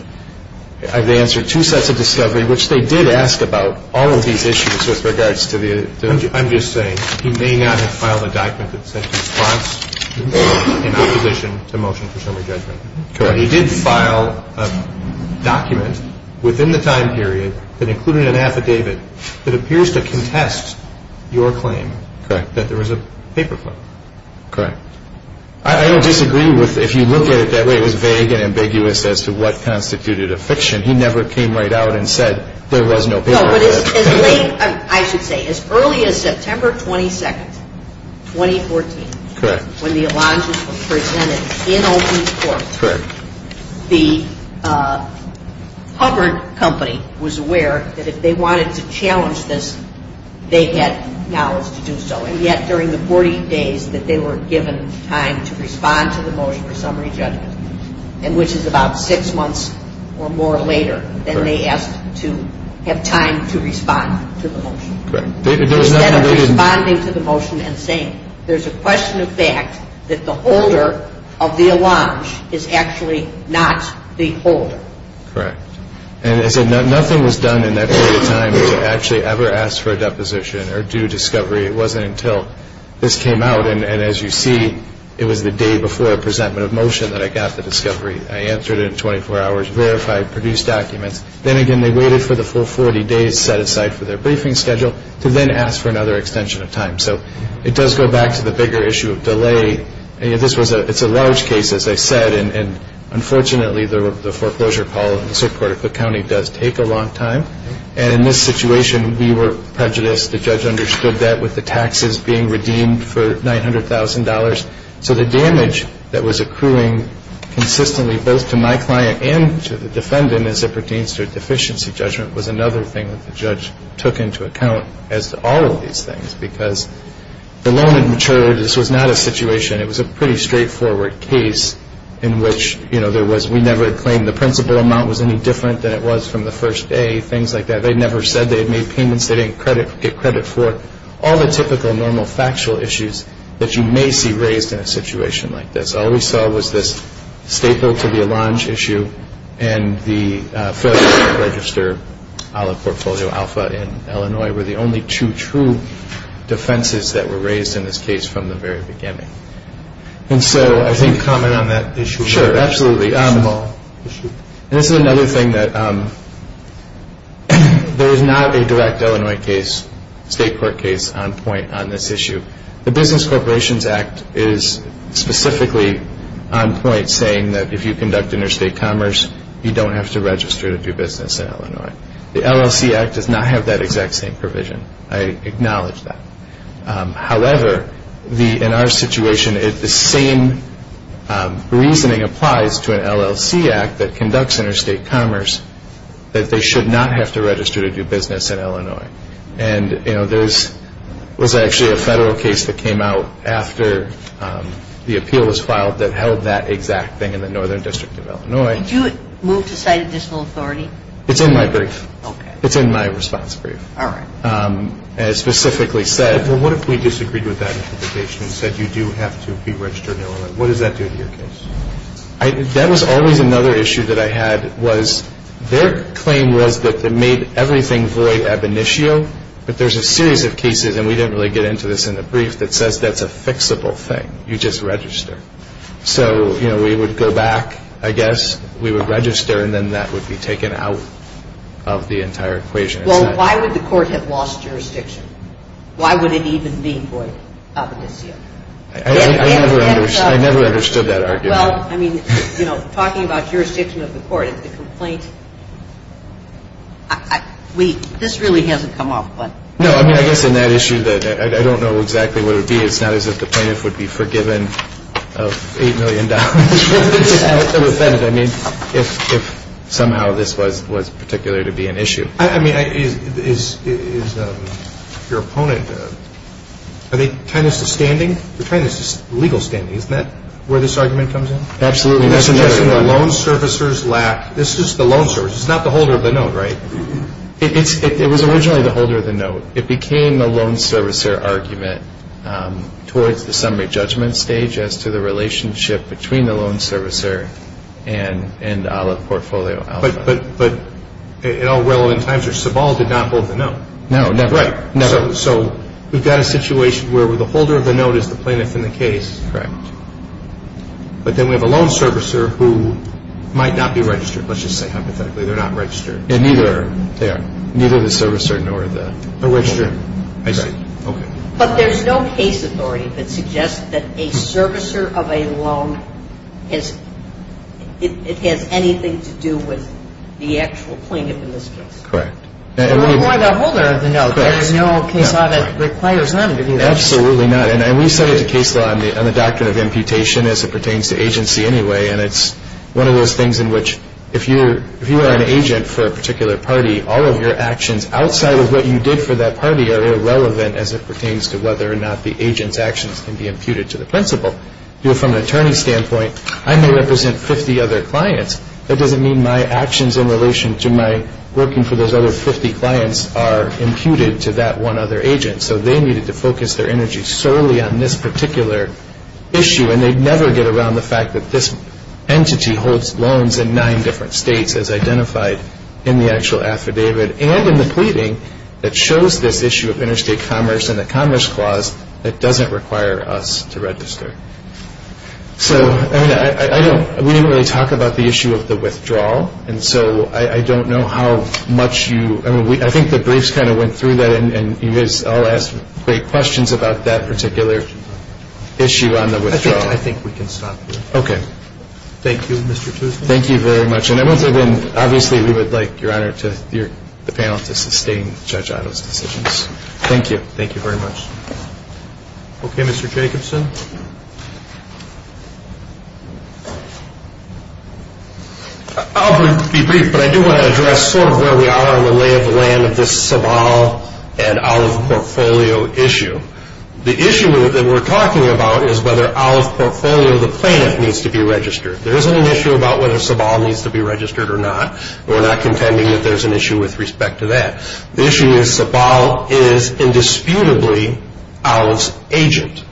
And they answered two sets of discovery, which they did ask about all of these issues with regards to the other. I'm just saying, he may not have filed a document that sent a response in opposition to motion for summary judgment. Correct. But he did file a document within the time period that included an affidavit that appears to contest your claim. Correct. That there was a paper flip. Correct. I don't disagree with if you look at it that way. It was vague and ambiguous as to what constituted a fiction. He never came right out and said there was no paper flip. No, but as late, I should say, as early as September 22nd, 2014. Correct. When the alliances were presented in open court. Correct. The Hubbard Company was aware that if they wanted to challenge this, they had knowledge to do so. And yet during the 40 days that they were given time to respond to the motion for summary judgment, and which is about six months or more later than they asked to have time to respond to the motion. Correct. Instead of responding to the motion and saying there's a question of fact that the holder of the allonge is actually not the holder. Correct. And as I said, nothing was done in that period of time to actually ever ask for a deposition or do discovery. It wasn't until this came out, and as you see, it was the day before a presentment of motion that I got the discovery. I answered it in 24 hours, verified, produced documents. Then again, they waited for the full 40 days set aside for their briefing schedule to then ask for another extension of time. So it does go back to the bigger issue of delay. It's a large case, as I said, and unfortunately the foreclosure call in the Supreme Court of Cook County does take a long time. And in this situation, we were prejudiced. The judge understood that with the taxes being redeemed for $900,000. So the damage that was accruing consistently both to my client and to the defendant as it pertains to a deficiency judgment was another thing that the judge took into account as to all of these things because the loan had matured. This was not a situation. It was a pretty straightforward case in which, you know, there was we never claimed the principal amount was any different than it was from the first day, things like that. They never said they had made payments. They didn't get credit for it. All the typical, normal, factual issues that you may see raised in a situation like this. All we saw was this state bill to be a launch issue and the failure to register out of portfolio alpha in Illinois were the only two true defenses that were raised in this case from the very beginning. And so I think… Can you comment on that issue? Sure, absolutely. It's a small issue. This is another thing that there is not a direct Illinois case, state court case on point on this issue. The Business Corporations Act is specifically on point saying that if you conduct interstate commerce, you don't have to register to do business in Illinois. The LLC Act does not have that exact same provision. I acknowledge that. However, in our situation, the same reasoning applies to an LLC Act that conducts interstate commerce that they should not have to register to do business in Illinois. And, you know, there was actually a federal case that came out after the appeal was filed that held that exact thing in the Northern District of Illinois. Did you move to cite additional authority? It's in my brief. Okay. It's in my response brief. All right. And it specifically said… Well, what if we disagreed with that interpretation and said you do have to be registered in Illinois? What does that do to your case? That was always another issue that I had was their claim was that they made everything void ab initio, but there's a series of cases, and we didn't really get into this in the brief, that says that's a fixable thing. You just register. So, you know, we would go back, I guess, we would register, and then that would be taken out of the entire equation. Well, why would the court have lost jurisdiction? Why would it even be void ab initio? I never understood that argument. Well, I mean, you know, talking about jurisdiction of the court, the complaint, this really hasn't come up, but… No, I mean, I guess in that issue, I don't know exactly what it would be. It's not as if the plaintiff would be forgiven of $8 million for this kind of offense, I mean, if somehow this was particular to be an issue. I mean, is your opponent, are they trying this to standing? They're trying this to legal standing. Isn't that where this argument comes in? Absolutely. They're suggesting the loan servicer's lack. This is the loan servicer. It's not the holder of the note, right? It was originally the holder of the note. It became the loan servicer argument towards the summary judgment stage as to the relationship between the loan servicer and Olive Portfolio Alpha. But at all relevant times, your suball did not hold the note. No, never. Right. So we've got a situation where the holder of the note is the plaintiff in the case. Correct. But then we have a loan servicer who might not be registered. Let's just say hypothetically they're not registered. And neither are they. Neither the servicer nor the plaintiff. They're registered. I see. Okay. But there's no case authority that suggests that a servicer of a loan It has anything to do with the actual plaintiff in this case. Correct. Well, why the holder of the note? There is no case authority that requires them to be registered. Absolutely not. And we set it to case law on the doctrine of imputation as it pertains to agency anyway. And it's one of those things in which if you are an agent for a particular party, all of your actions outside of what you did for that party are irrelevant as it pertains to whether or not the agent's actions can be imputed to the principal. You know, from an attorney's standpoint, I may represent 50 other clients. That doesn't mean my actions in relation to my working for those other 50 clients are imputed to that one other agent. So they needed to focus their energy solely on this particular issue. And they'd never get around the fact that this entity holds loans in nine different states as identified in the actual affidavit and in the pleading that shows this issue of interstate commerce and the Commerce Clause that doesn't require us to register. So, I mean, I don't – we didn't really talk about the issue of the withdrawal. And so I don't know how much you – I mean, I think the briefs kind of went through that and you guys all asked great questions about that particular issue on the withdrawal. I think we can stop here. Okay. Thank you, Mr. Toosman. Thank you very much. And I want to then – obviously, we would like, Your Honor, the panel to sustain Judge Otto's decisions. Thank you. Thank you very much. Okay, Mr. Jacobson. I'll be brief, but I do want to address sort of where we are on the lay of the land of this Sabal and Olive Portfolio issue. The issue that we're talking about is whether Olive Portfolio, the plaintiff, needs to be registered. There isn't an issue about whether Sabal needs to be registered or not. We're not contending that there's an issue with respect to that. The issue is Sabal is indisputably Olive's agent,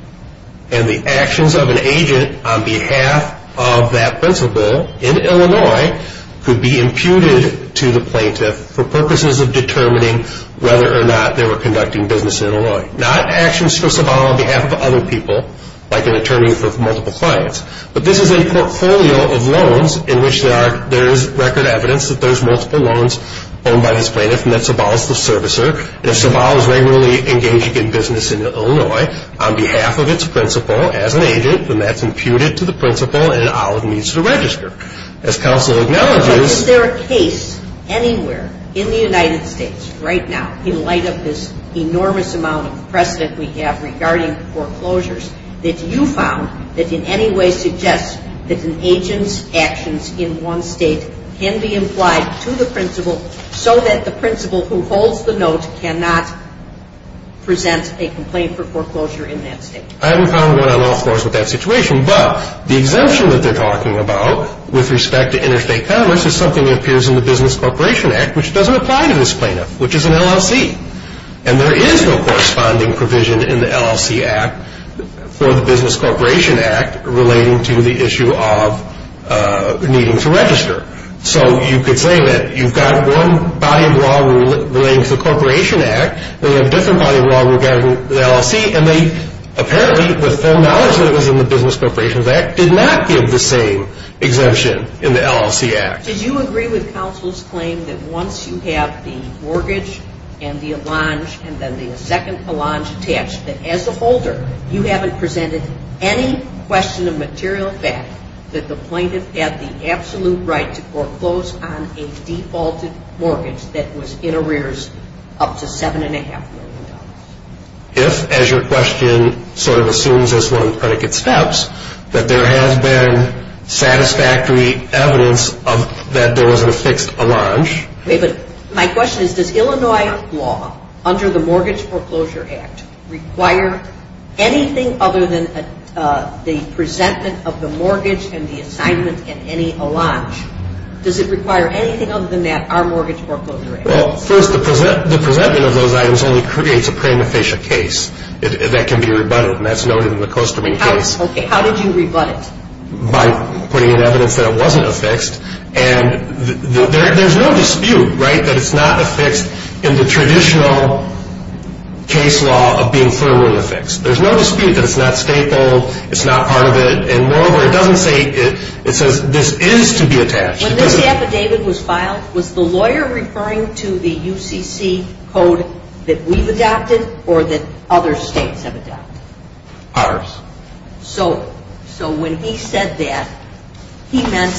and the actions of an agent on behalf of that principal in Illinois could be imputed to the plaintiff for purposes of determining whether or not they were conducting business in Illinois. Not actions for Sabal on behalf of other people, like an attorney for multiple clients, but this is a portfolio of loans in which there is record evidence that there's multiple loans owned by this plaintiff and that Sabal is the servicer. If Sabal is regularly engaging in business in Illinois on behalf of its principal as an agent, then that's imputed to the principal and Olive needs to register. As counsel acknowledges... So is there a case anywhere in the United States right now, in light of this enormous amount of precedent we have regarding foreclosures, that you found that in any way suggests that an agent's actions in one state can be implied to the principal so that the principal who holds the note cannot present a complaint for foreclosure in that state? I haven't found one on all floors with that situation, but the exemption that they're talking about with respect to interstate commerce is something that appears in the Business Corporation Act, which doesn't apply to this plaintiff, which is an LLC. And there is no corresponding provision in the LLC Act for the Business Corporation Act relating to the issue of needing to register. So you could say that you've got one body of law relating to the Corporation Act, they have a different body of law regarding the LLC, and they apparently, with full knowledge that it was in the Business Corporation Act, did not give the same exemption in the LLC Act. Did you agree with counsel's claim that once you have the mortgage and the allonge and then the second allonge attached, that as a holder you haven't presented any question of material fact that the plaintiff had the absolute right to foreclose on a defaulted mortgage that was in arrears up to $7.5 million? If, as your question sort of assumes as one of the predicate steps, that there has been satisfactory evidence that there was a fixed allonge. My question is, does Illinois law under the Mortgage Foreclosure Act require anything other than the presentment of the mortgage and the assignment and any allonge? Does it require anything other than that, our Mortgage Foreclosure Act? Well, first, the presentment of those items only creates a prima facie case that can be rebutted, and that's noted in the costuming case. How did you rebut it? By putting in evidence that it wasn't a fixed. And there's no dispute, right, that it's not a fixed in the traditional case law of being firmly a fixed. There's no dispute that it's not stapled, it's not part of it, and moreover, it doesn't say, it says this is to be attached. When this affidavit was filed, was the lawyer referring to the UCC code that we've adopted or that other states have adopted? Ours. So when he said that, he meant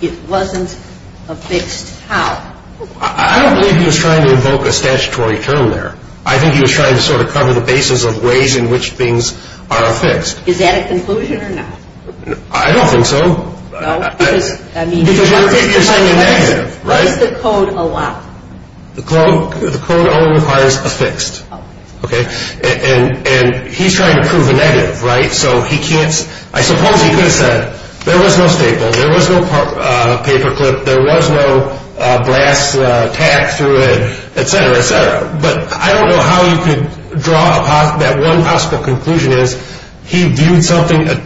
it wasn't a fixed how? I don't believe he was trying to invoke a statutory term there. I think he was trying to sort of cover the basis of ways in which things are a fixed. Is that a conclusion or not? I don't think so. No? Because you're saying a negative, right? What does the code allow? The code only requires a fixed. Okay. And he's trying to prove a negative, right? So he can't, I suppose he could have said there was no staple, there was no paper clip, there was no brass tack through it, et cetera, et cetera. But I don't know how he could draw that one possible conclusion is he viewed something as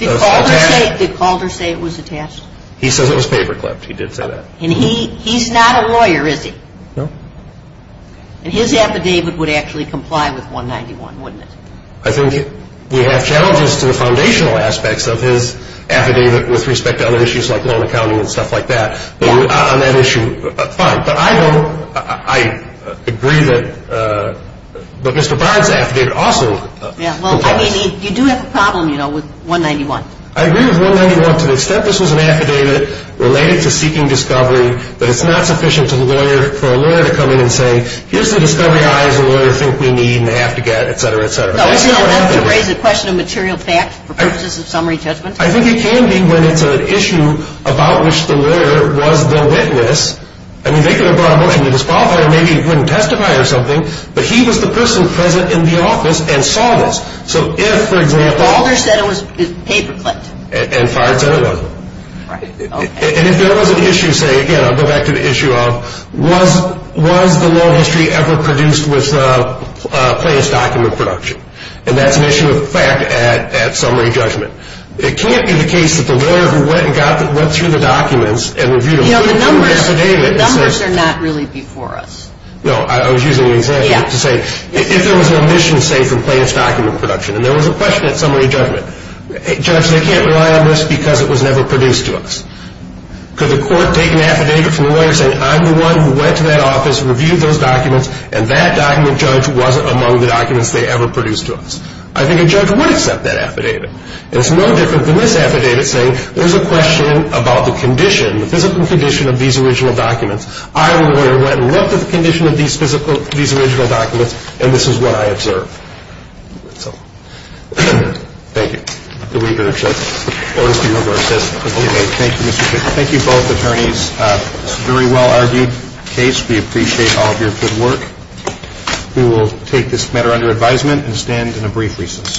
attached. Did Calder say it was attached? He says it was paper clipped. He did say that. And he's not a lawyer, is he? No. And his affidavit would actually comply with 191, wouldn't it? I think we have challenges to the foundational aspects of his affidavit with respect to other issues like loan accounting and stuff like that. On that issue, fine. But I don't, I agree that, but Mr. Barnes' affidavit also complies. Yeah, well, I mean, you do have a problem, you know, with 191. I agree with 191 to the extent this was an affidavit related to seeking discovery, but it's not sufficient for a lawyer to come in and say, here's the discovery I, as a lawyer, think we need and have to get, et cetera, et cetera. That's to raise a question of material fact for purposes of summary judgment? I think it can be when it's an issue about which the lawyer was the witness. I mean, they could have brought a motion to disqualify him, maybe he couldn't testify or something, but he was the person present in the office and saw this. So if, for example... Calder said it was paper clipped. And Barnes said it wasn't. Right. And if there was an issue, say, again, I'll go back to the issue of, was the law history ever produced with plaintiff's document production? And that's an issue of fact at summary judgment. It can't be the case that the lawyer who went through the documents and reviewed them... Yeah, the numbers are not really before us. No, I was using an example to say, if there was an omission, say, from plaintiff's document production, and there was a question at summary judgment, Judge, they can't rely on this because it was never produced to us. Could the court take an affidavit from the lawyer saying, I'm the one who went to that office, reviewed those documents, and that document, Judge, wasn't among the documents they ever produced to us? I think a judge would accept that affidavit. And it's no different than this affidavit saying, there's a question about the condition, the physical condition of these original documents. I, the lawyer, went and looked at the condition of these physical, these original documents, and this is what I observed. Thank you. Thank you, both attorneys. It's a very well-argued case. We appreciate all of your good work. We will take this matter under advisement and stand in a brief recess.